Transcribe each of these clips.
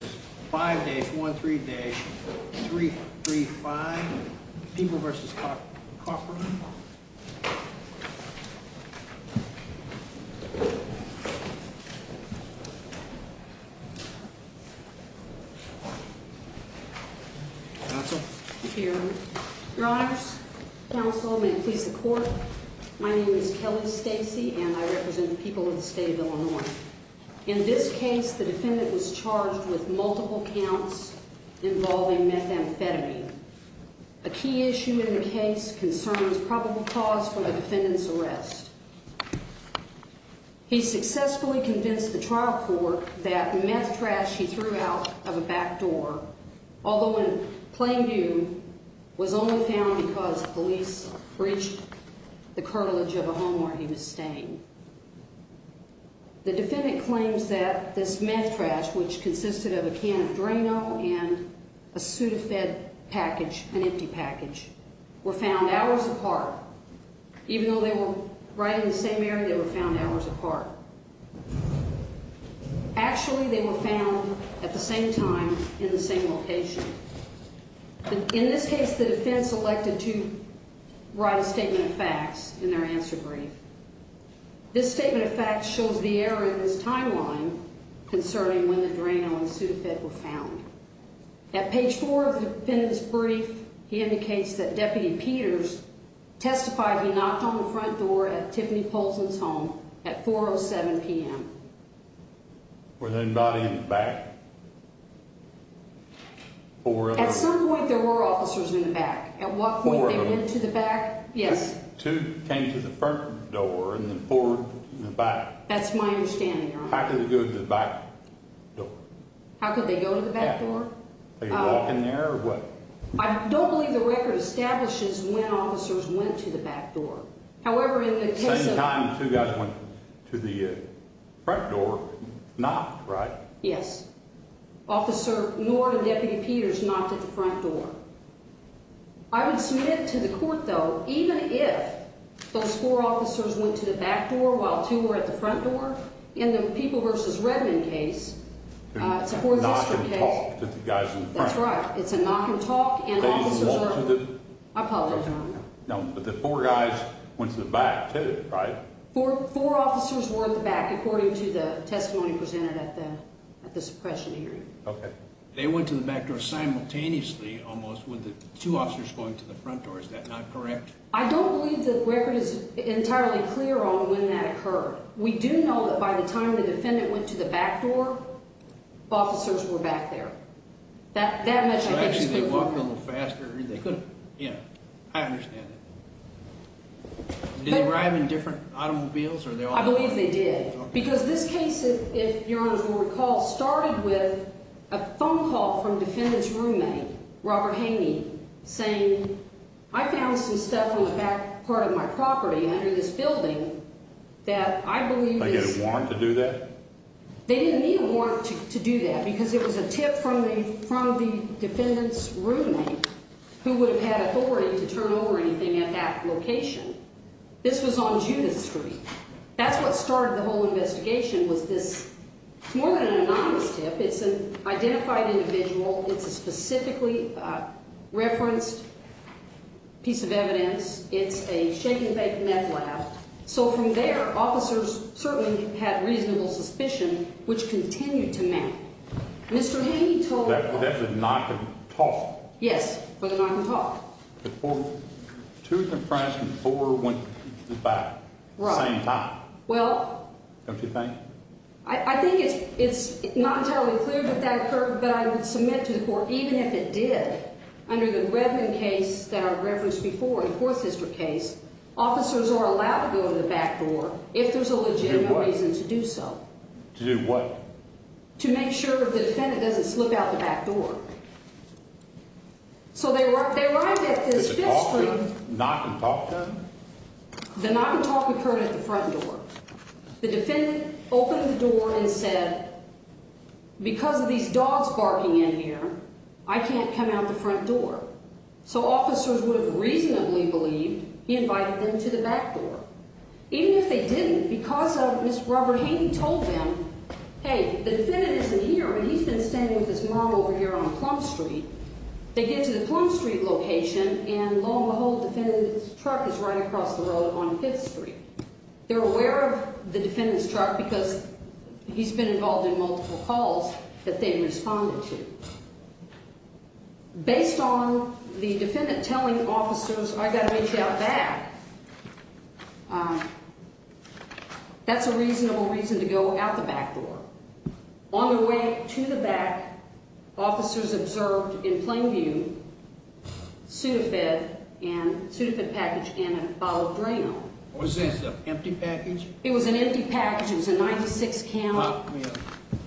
5 days, 1, 3 days, 3, 3, 5. People v. Kofron. Counsel. Your Honors. Counsel, may it please the Court. My name is Kelly Stacey and I represent the people of the state of Illinois. In this case, the defendant was charged with multiple counts involving methamphetamine. A key issue in the case concerns probable cause for the defendant's arrest. He successfully convinced the trial court that meth trash he threw out of a back door, although in plain view, was only found because police breached the curtilage of a home where he was staying. The defendant claims that this meth trash, which consisted of a can of Drano and a Sudafed package, an empty package, were found hours apart. Even though they were right in the same area, they were found hours apart. Actually, they were found at the same time in the same location. In this case, the defense elected to write a statement of facts in their answer brief. This statement of facts shows the error in this timeline concerning when the Drano and Sudafed were found. At page 4 of the defendant's brief, he indicates that Deputy Peters testified he knocked on the front door at Tiffany Polson's home at 4.07 p.m. Were there anybody in the back? At some point, there were officers in the back. At what point they went to the back? Yes. Two came to the front door and then four in the back. That's my understanding, Your Honor. How could they go to the back door? How could they go to the back door? Are you walking there or what? I don't believe the record establishes when officers went to the back door. At the same time, two guys went to the front door and knocked, right? Yes. Officer Nord and Deputy Peters knocked at the front door. I would submit to the court, though, even if those four officers went to the back door while two were at the front door, in the People v. Redmond case, it's a four-district case. They knocked and talked to the guys in the front. That's right. It's a knock and talk. I apologize, Your Honor. No, but the four guys went to the back, too, right? Four officers were at the back, according to the testimony presented at the suppression hearing. Okay. They went to the back door simultaneously, almost, with the two officers going to the front door. Is that not correct? I don't believe the record is entirely clear on when that occurred. We do know that by the time the defendant went to the back door, officers were back there. So, actually, they walked a little faster. They could have. Yeah, I understand that. Did they ride in different automobiles? I believe they did because this case, if Your Honors will recall, started with a phone call from the defendant's roommate, Robert Haney, saying, I found some stuff on the back part of my property under this building that I believe is— Like a warrant to do that? They didn't need a warrant to do that because it was a tip from the defendant's roommate who would have had authority to turn over anything at that location. This was on Judith Street. That's what started the whole investigation was this—more than an anonymous tip, it's an identified individual. It's a specifically referenced piece of evidence. It's a shake-and-bake meth lab. So, from there, officers certainly had reasonable suspicion, which continued to mount. Mr. Haney told— That was a knock-and-talk. Yes, for the knock-and-talk. The two confronts and four went to the back at the same time. Well— Don't you think? I think it's not entirely clear that that occurred, but I would submit to the court even if it did. Under the Redmond case that I referenced before, the Fourth History case, officers are allowed to go to the back door if there's a legitimate reason to do so. To do what? To make sure the defendant doesn't slip out the back door. So, they arrived at this Fifth Street— Did the knock-and-talk occur? The knock-and-talk occurred at the front door. The defendant opened the door and said, Because of these dogs barking in here, I can't come out the front door. So, officers would have reasonably believed he invited them to the back door. Even if they didn't, because of— Mr. Robert Haney told them, Hey, the defendant isn't here, but he's been standing with his mom over here on Plum Street. They get to the Plum Street location, and lo and behold, the defendant's truck is right across the road on Fifth Street. They're aware of the defendant's truck because he's been involved in multiple calls that they've responded to. Based on the defendant telling officers, I've got to reach out back, that's a reasonable reason to go out the back door. On their way to the back, officers observed, in plain view, a Sudafed package and a bottle of drain oil. Was this an empty package? It was an empty package. It was a 96-caliber.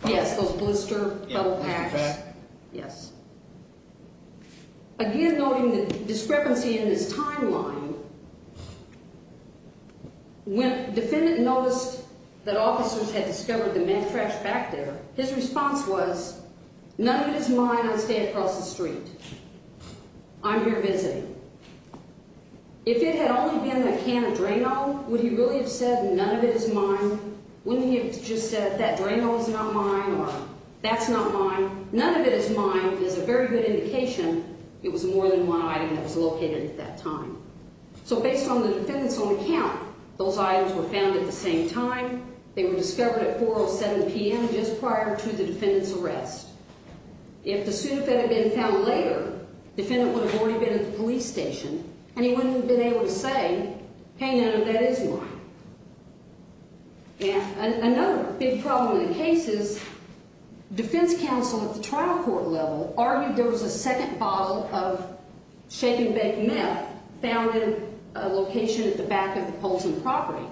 Yes, those blister-level packs. Yes. Again, noting the discrepancy in this timeline, when the defendant noticed that officers had discovered the meth trash back there, his response was, None of it is mine. I'll stay across the street. I'm here visiting. If it had only been a can of drain oil, would he really have said, None of it is mine? Wouldn't he have just said, That drain oil's not mine, or that's not mine? None of it is mine is a very good indication it was more than one item that was located at that time. So based on the defendant's own account, those items were found at the same time. They were discovered at 4.07 p.m. just prior to the defendant's arrest. If the Sudafed had been found later, the defendant would have already been at the police station, and he wouldn't have been able to say, Hey, none of that is mine. Another big problem in the case is, defense counsel at the trial court level argued there was a second bottle of shake-and-bake meth found in a location at the back of the Polson property.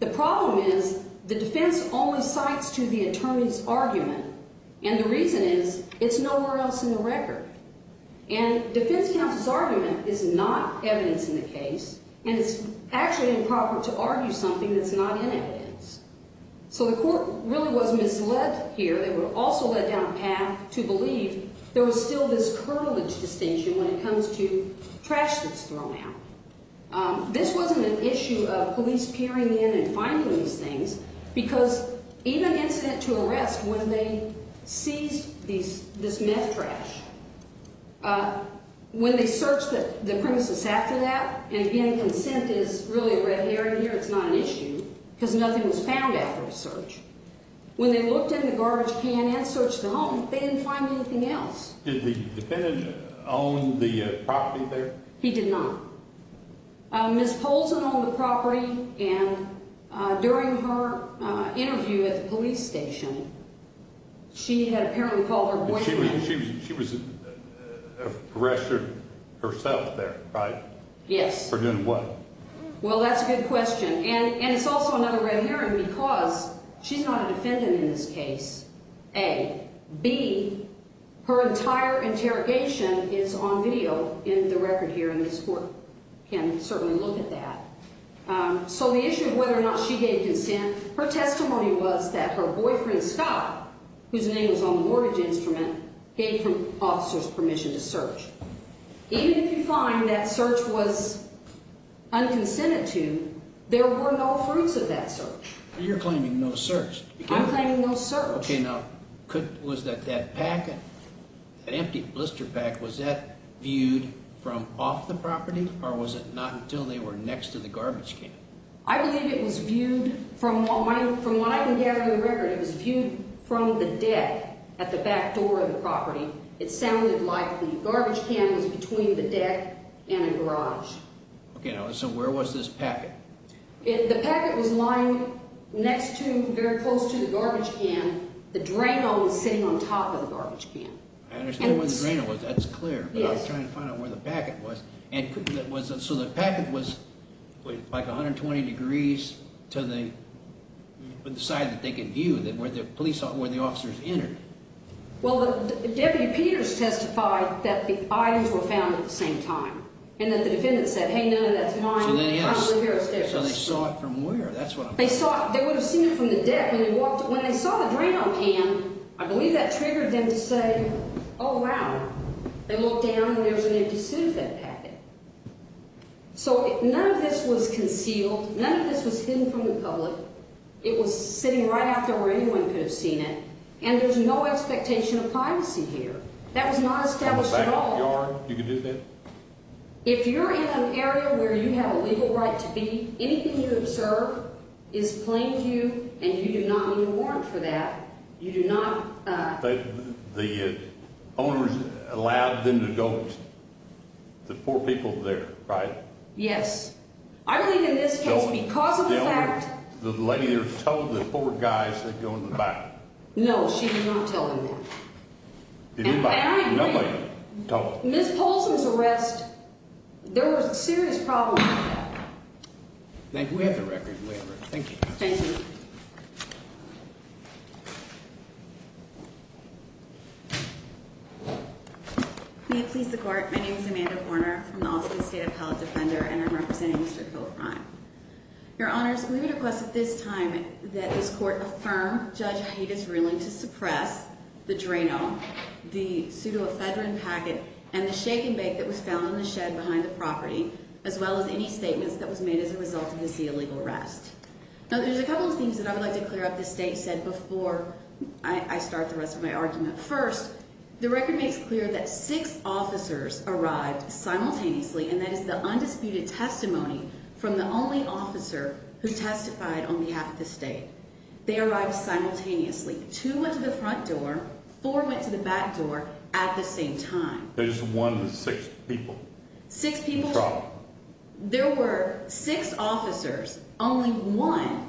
The problem is, the defense only cites to the attorney's argument, and the reason is, it's nowhere else in the record. And defense counsel's argument is not evidence in the case, and it's actually improper to argue something that's not in evidence. So the court really was misled here. They were also led down a path to believe there was still this cartilage distinction when it comes to trash that's thrown out. This wasn't an issue of police peering in and finding these things, because even incident to arrest when they seized this meth trash, when they searched the premises after that, and, again, consent is really a red herring here. It's not an issue because nothing was found after the search. When they looked in the garbage can and searched the home, they didn't find anything else. Did the defendant own the property there? He did not. Ms. Polson owned the property, and during her interview at the police station, she had apparently called her boyfriend. She was arrested herself there, right? Yes. For doing what? Well, that's a good question, and it's also another red herring because she's not a defendant in this case, A. B, her entire interrogation is on video in the record here, and this court can certainly look at that. So the issue of whether or not she gave consent, her testimony was that her boyfriend, Scott, whose name was on the mortgage instrument, gave officers permission to search. Even if you find that search was unconsented to, there were no fruits of that search. You're claiming no search. I'm claiming no search. Okay, now, was that packet, that empty blister pack, was that viewed from off the property, or was it not until they were next to the garbage can? I believe it was viewed from what I can gather in the record, it was viewed from the deck at the back door of the property. It sounded like the garbage can was between the deck and a garage. Okay, now, so where was this packet? The packet was lying next to, very close to the garbage can. The drain hole was sitting on top of the garbage can. I understand where the drain hole was. That's clear, but I was trying to find out where the packet was. So the packet was like 120 degrees to the side that they could view, where the officers entered. Well, Deputy Peters testified that the items were found at the same time and that the defendant said, So they saw it from where? They would have seen it from the deck. When they saw the drain hole pan, I believe that triggered them to say, oh, wow, they looked down and there was an empty suit of that packet. So none of this was concealed. None of this was hidden from the public. It was sitting right out there where anyone could have seen it, and there's no expectation of privacy here. That was not established at all. You could do that? If you're in an area where you have a legal right to be, anything you observe is plain to you, and you do not need a warrant for that. You do not. The owners allowed them to go, the poor people there, right? Yes. I believe in this case because of the fact. The lady there told the poor guys to go in the back. No, she did not tell them that. Ms. Polson's arrest, there was a serious problem. Thank you. We have the record. We have the record. Thank you. Thank you. May it please the Court. My name is Amanda Horner from the Austin State Appellate Defender, and I'm representing Mr. Kilbrine. Your Honors, we request at this time that this Court affirm Judge Haida's ruling to suppress the Drano, the pseudoephedrine packet, and the shake and bake that was found in the shed behind the property, as well as any statements that was made as a result of this illegal arrest. Now, there's a couple of things that I would like to clear up the State said before I start the rest of my argument. First, the record makes clear that six officers arrived simultaneously, and that is the undisputed testimony from the only officer who testified on behalf of the State. They arrived simultaneously. Two went to the front door. Four went to the back door at the same time. There's one with six people. Six people. There were six officers. Only one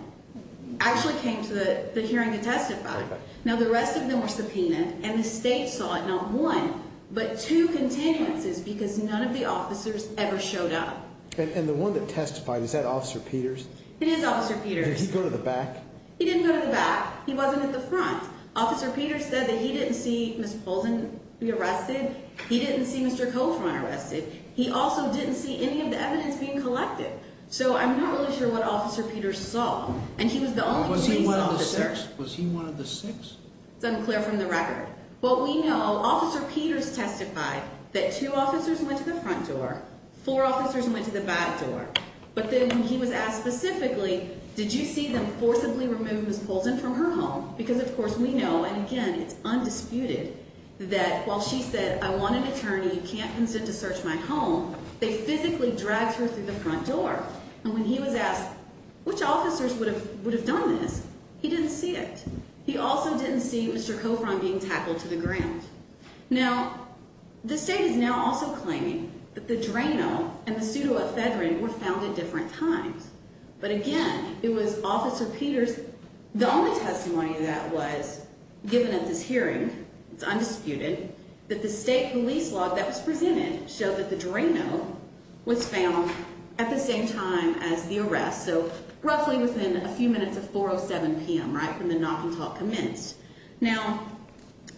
actually came to the hearing to testify. Now, the rest of them were subpoenaed, and the State saw not one, but two continuances because none of the officers ever showed up. And the one that testified, is that Officer Peters? It is Officer Peters. Did he go to the back? He didn't go to the back. He wasn't at the front. Officer Peters said that he didn't see Ms. Poulsen be arrested. He didn't see Mr. Kohlfein arrested. He also didn't see any of the evidence being collected. So, I'm not really sure what Officer Peters saw. And he was the only police officer. Was he one of the six? It's unclear from the record. What we know, Officer Peters testified that two officers went to the front door, four officers went to the back door. But then when he was asked specifically, did you see them forcibly remove Ms. Poulsen from her home? Because, of course, we know, and again, it's undisputed, that while she said, I want an attorney, you can't consent to search my home, they physically dragged her through the front door. And when he was asked, which officers would have done this? He didn't see it. He also didn't see Mr. Kohlfein being tackled to the ground. Now, the State is now also claiming that the Drano and the Pseudo Ephedrine were found at different times. But again, it was Officer Peters. The only testimony that was given at this hearing, it's undisputed, that the State police log that was presented showed that the Drano was found at the same time as the arrest, so roughly within a few minutes of 4.07 p.m., right, when the knocking talk commenced. Now,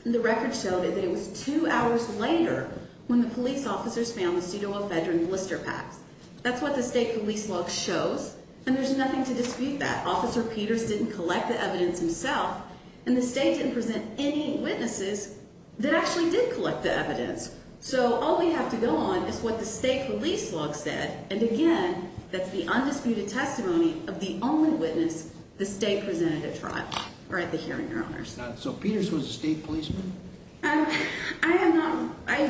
the record showed that it was two hours later when the police officers found the Pseudo Ephedrine blister packs. That's what the State police log shows, and there's nothing to dispute that. Officer Peters didn't collect the evidence himself, and the State didn't present any witnesses that actually did collect the evidence. So all we have to go on is what the State police log said, and again, that's the undisputed testimony of the only witness the State presented at trial or at the hearing, Your Honors. So Peters was a State policeman? I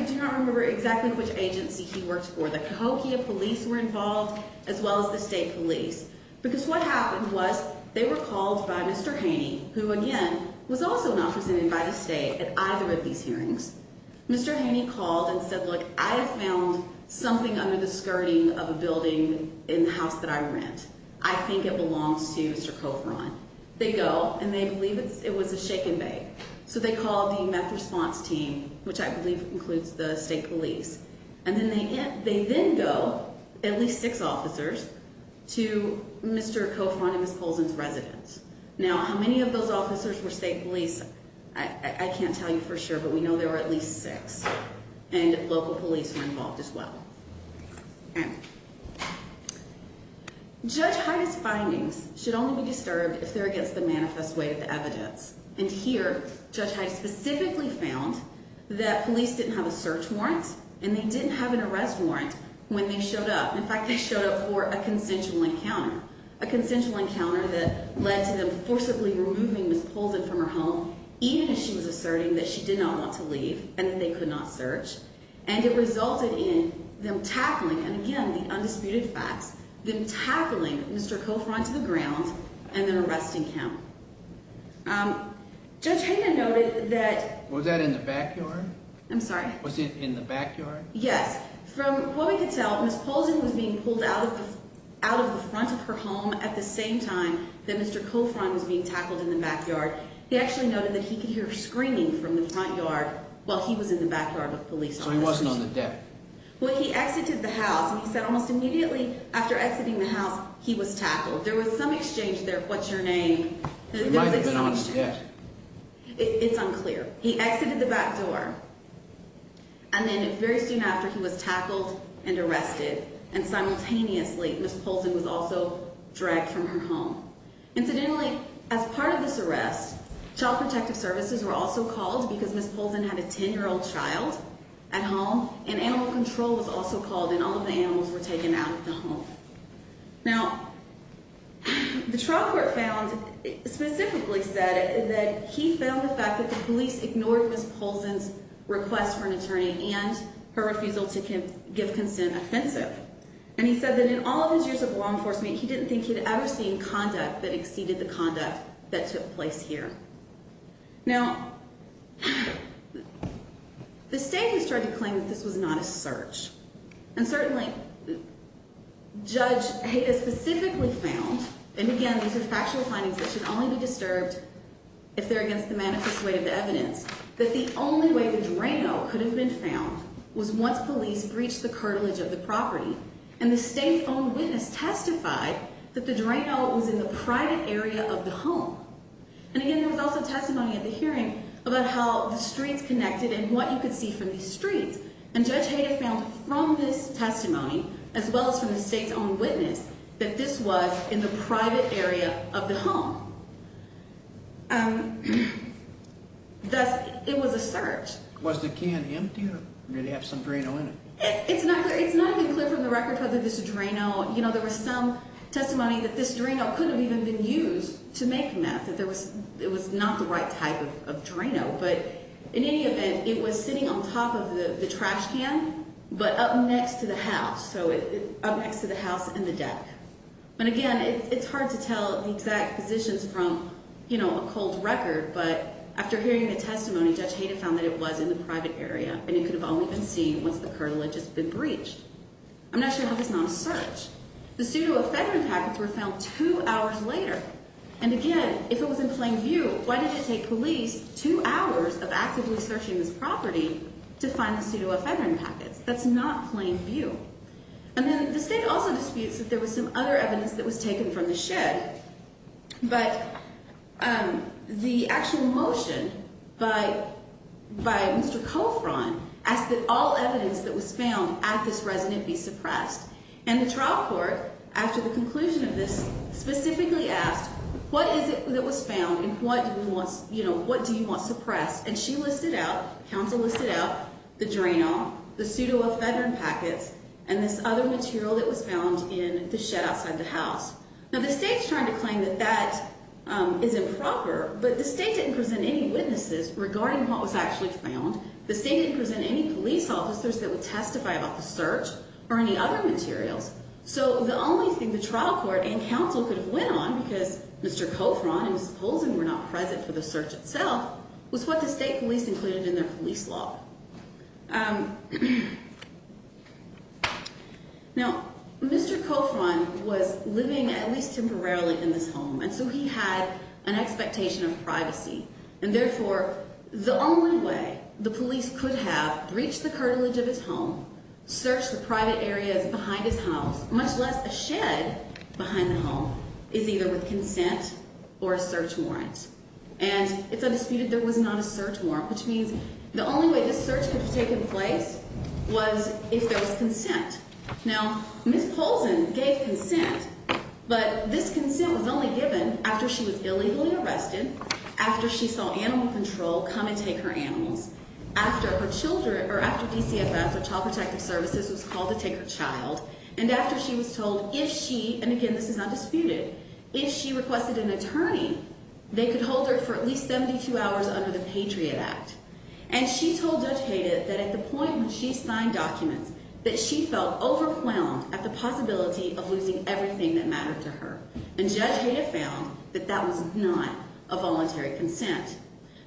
do not remember exactly which agency he worked for. The Cahokia police were involved as well as the State police, because what happened was they were called by Mr. Haney, who again was also not presented by the State at either of these hearings. Mr. Haney called and said, look, I have found something under the skirting of a building in the house that I rent. I think it belongs to Mr. Kovron. They go, and they believe it was a shaken bag. So they called the meth response team, which I believe includes the State police, and they then go, at least six officers, to Mr. Kovron and Ms. Polzin's residence. Now, how many of those officers were State police, I can't tell you for sure, but we know there were at least six, and local police were involved as well. Judge Hines' findings should only be disturbed if they're against the manifest way of evidence, and here Judge Hines specifically found that police didn't have a search warrant and they didn't have an arrest warrant when they showed up. In fact, they showed up for a consensual encounter, a consensual encounter that led to them forcibly removing Ms. Polzin from her home, even as she was asserting that she did not want to leave and that they could not search, and it resulted in them tackling, and again, the undisputed facts, them tackling Mr. Kovron to the ground and then arresting him. Judge Hines noted that... Was that in the backyard? I'm sorry? Was it in the backyard? Yes. From what we could tell, Ms. Polzin was being pulled out of the front of her home at the same time that Mr. Kovron was being tackled in the backyard. He actually noted that he could hear screaming from the front yard while he was in the backyard with police officers. So he wasn't on the deck? Well, he exited the house, and he said almost immediately after exiting the house, he was tackled. There was some exchange there. What's your name? It's unclear. He exited the back door, and then very soon after, he was tackled and arrested, and simultaneously, Ms. Polzin was also dragged from her home. Incidentally, as part of this arrest, child protective services were also called because Ms. Polzin had a 10-year-old child at home, and animal control was also called, and all of the animals were taken out of the home. Now, the trial court found, specifically said, that he found the fact that the police ignored Ms. Polzin's request for an attorney and her refusal to give consent offensive, and he said that in all of his years of law enforcement, he didn't think he'd ever seen conduct that exceeded the conduct that took place here. Now, the state has tried to claim that this was not a search, and certainly, Judge Hayda specifically found, and again, these are factual findings that should only be disturbed if they're against the manifest way of the evidence, that the only way the drain hole could have been found was once police breached the cartilage of the property, and the state's own witness testified that the drain hole was in the private area of the home, and again, there was also testimony at the hearing about how the streets connected and what you could see from these streets, and Judge Hayda found from this testimony, as well as from the state's own witness, that this was in the private area of the home. Thus, it was a search. Was the can empty, or did it have some Drano in it? It's not clear. It's not even clear from the record whether this Drano, you know, there was some testimony that this Drano could have even been used to make meth, that it was not the right type of Drano, but in any event, it was sitting on top of the trash can, but up next to the house, so up next to the house and the deck, and again, it's hard to tell the exact positions from, you know, a cold record, but after hearing the testimony, Judge Hayda found that it was in the private area, and it could have only been seen once the cartilage had been breached. I'm not sure how this is not a search. The pseudoephedrine packets were found two hours later, and again, if it was in plain view, why did it take police two hours of actively searching this property to find the pseudoephedrine packets? That's not plain view, and then the state also disputes that there was some other evidence that was taken from the shed, but the actual motion by Mr. Colfron asked that all evidence that was found at this resident be suppressed, and the trial court, after the conclusion of this, specifically asked, what is it that was found, and what do you want suppressed, and she listed out, counsel listed out, the Drano, the pseudoephedrine packets, and this other material that was found in the shed outside the house. Now, the state's trying to claim that that is improper, but the state didn't present any witnesses regarding what was actually found. The state didn't present any police officers that would testify about the search or any other materials, so the only thing the trial court and counsel could have went on, because Mr. Colfron and Ms. Polzin were not present for the search itself, was what the state police included in their police law. Now, Mr. Colfron was living at least temporarily in this home, and so he had an expectation of privacy, and therefore, the only way the police could have breached the cartilage of his home, searched the private areas behind his house, much less a shed behind the home, is either with consent or a search warrant, and it's undisputed there was not a search warrant, which means the only way this search could have taken place was if there was consent. Now, Ms. Polzin gave consent, but this consent was only given after she was illegally arrested, after she saw animal control come and take her animals, after DCFS, or Child Protective Services, was called to take her child, and after she was told if she, and again, this is undisputed, if she requested an attorney, they could hold her for at least 72 hours under the Patriot Act, and she told Judge Hayda that at the point when she signed documents that she felt overwhelmed at the possibility of losing everything that mattered to her, and Judge Hayda found that that was not a voluntary consent.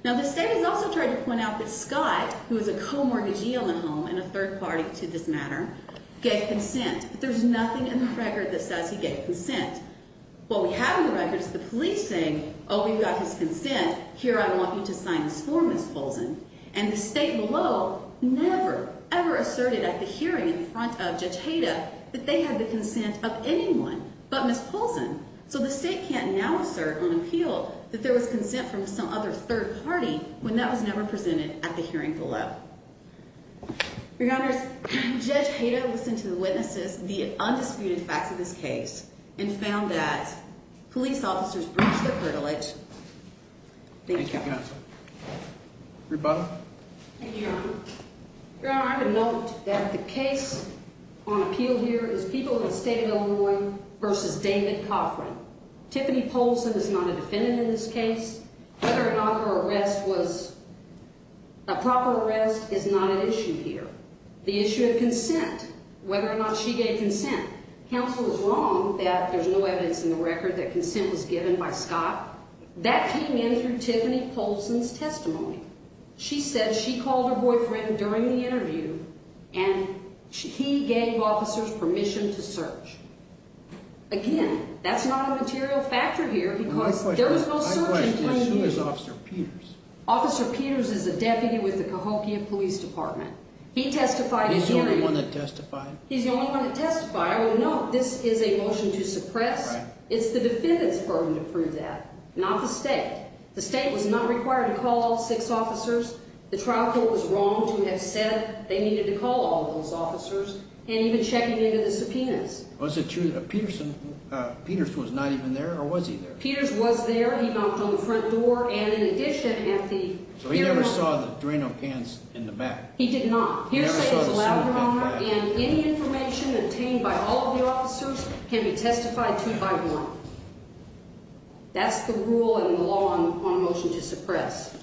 Now, the state has also tried to point out that Scott, who was a co-mortgagee on the home, and a third party to this matter, gave consent, but there's nothing in the record that says he gave consent. What we have in the record is the police saying, oh, we've got his consent, here, I want you to sign this for Ms. Polzin, and the state below never, ever asserted at the hearing in front of Judge Hayda that they had the consent of anyone but Ms. Polzin, so the state can't now assert on appeal that there was consent from some other third party when that was never presented at the hearing below. Your Honors, Judge Hayda listened to the witnesses, the undisputed facts of this case, and found that police officers breach the privilege. Thank you. Rebuttal? Thank you, Your Honor. Your Honor, I would note that the case on appeal here is Peoplehood State of Illinois versus David Coffran. Tiffany Polzin is not a defendant in this case. Whether or not her arrest was a proper arrest is not an issue here. The issue of consent, whether or not she gave consent. Counsel is wrong that there's no evidence in the record that consent was given by Scott. That came in through Tiffany Polzin's testimony. She said she called her boyfriend during the interview, and he gave officers permission to search. Again, that's not a material factor here because there was no search in 20 years. My question is, who is Officer Peters? Officer Peters is a deputy with the Cahokia Police Department. He testified at hearing. He's the only one that testified? He's the only one that testified. I would note this is a motion to suppress. Right. It's the defendant's burden to prove that, not the state. The state was not required to call all six officers. The trial court was wrong to have said they needed to call all of those officers, and even checking into the subpoenas. Was it true that Peters was not even there, or was he there? Peters was there. He knocked on the front door, and in addition at the hearing. So he never saw the Drano cans in the back? He did not. He never saw the Drano cans in the back. And any information obtained by all of the officers can be testified to by one. That's the rule in the law on motion to suppress.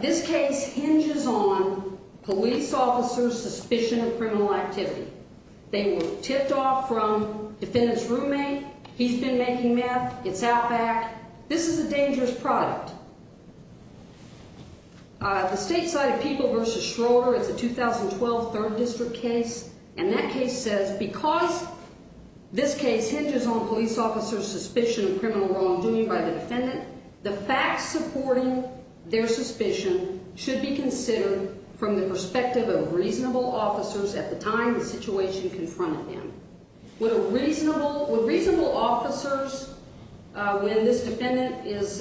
This case hinges on police officers' suspicion of criminal activity. They were tipped off from defendant's roommate. He's been making meth. It's Outback. This is a dangerous product. The stateside People v. Schroeder, it's a 2012 3rd District case, and that case says because this case hinges on police officers' suspicion of criminal wrongdoing by the defendant, the facts supporting their suspicion should be considered from the perspective of reasonable officers at the time the situation confronted them. Would reasonable officers, when this defendant is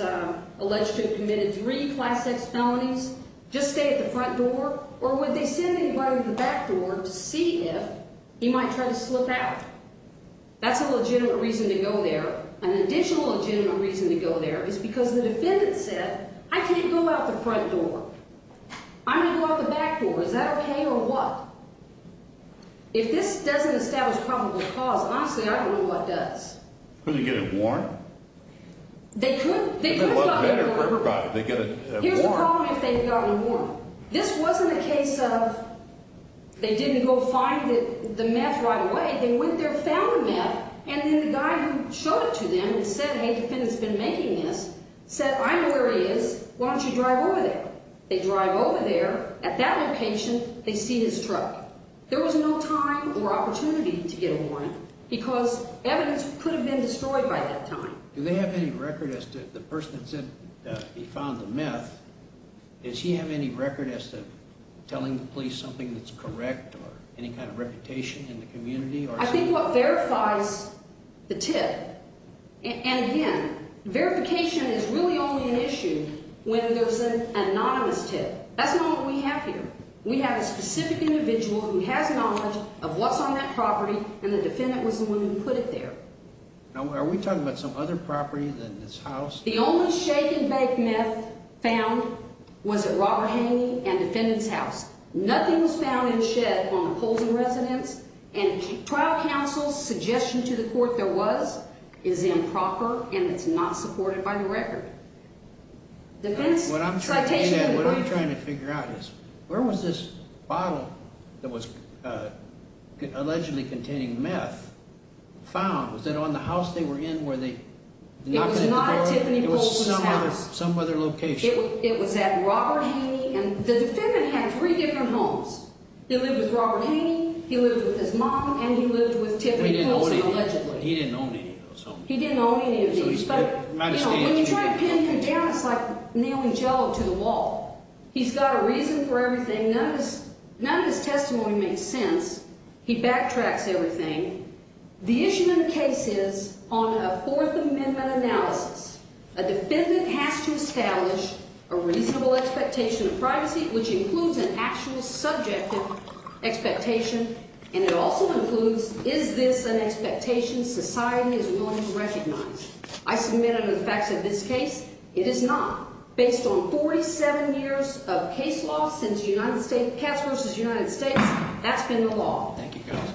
alleged to have committed three Class X felonies, just stay at the front door, or would they send anybody to the back door to see if he might try to slip out? That's a legitimate reason to go there. An additional legitimate reason to go there is because the defendant said, I can't go out the front door. I'm going to go out the back door. Is that okay or what? If this doesn't establish probable cause, honestly, I don't know what does. Couldn't he get it worn? They could. They could have gotten it worn. Here's the problem if they've gotten it worn. This wasn't a case of they didn't go find the meth right away. They went there, found the meth, and then the guy who showed it to them and said, hey, defendant's been making this, said, I know where he is. Why don't you drive over there? They drive over there. At that location, they see his truck. There was no time or opportunity to get it worn because evidence could have been destroyed by that time. Do they have any record as to the person that said he found the meth, does he have any record as to telling the police something that's correct or any kind of reputation in the community? I think what verifies the tip, and again, verification is really only an issue when there's an anonymous tip. That's not what we have here. We have a specific individual who has knowledge of what's on that property, and the defendant was the one who put it there. Are we talking about some other property than this house? The only shaken bank meth found was at Robert Haney and defendant's house. Nothing was found in the shed on opposing residence, and trial counsel's suggestion to the court there was is improper and it's not supported by the record. What I'm trying to figure out is, where was this bottle that was allegedly containing meth found? Was it on the house they were in where they knocked into the door? It was not at Tiffany Poulsen's house. It was some other location. It was at Robert Haney, and the defendant had three different homes. He lived with Robert Haney, he lived with his mom, and he lived with Tiffany Poulsen allegedly. He didn't own any of those homes. He didn't own any of these. When you try to pin contempt, it's like nailing jello to the wall. He's got a reason for everything. None of his testimony makes sense. He backtracks everything. The issue in the case is, on a Fourth Amendment analysis, a defendant has to establish a reasonable expectation of privacy, which includes an actual subjective expectation, and it also includes, is this an expectation society is willing to recognize? I submit under the facts of this case, it is not. Based on 47 years of case law since Cats v. United States, that's been the law. Thank you, Counsel.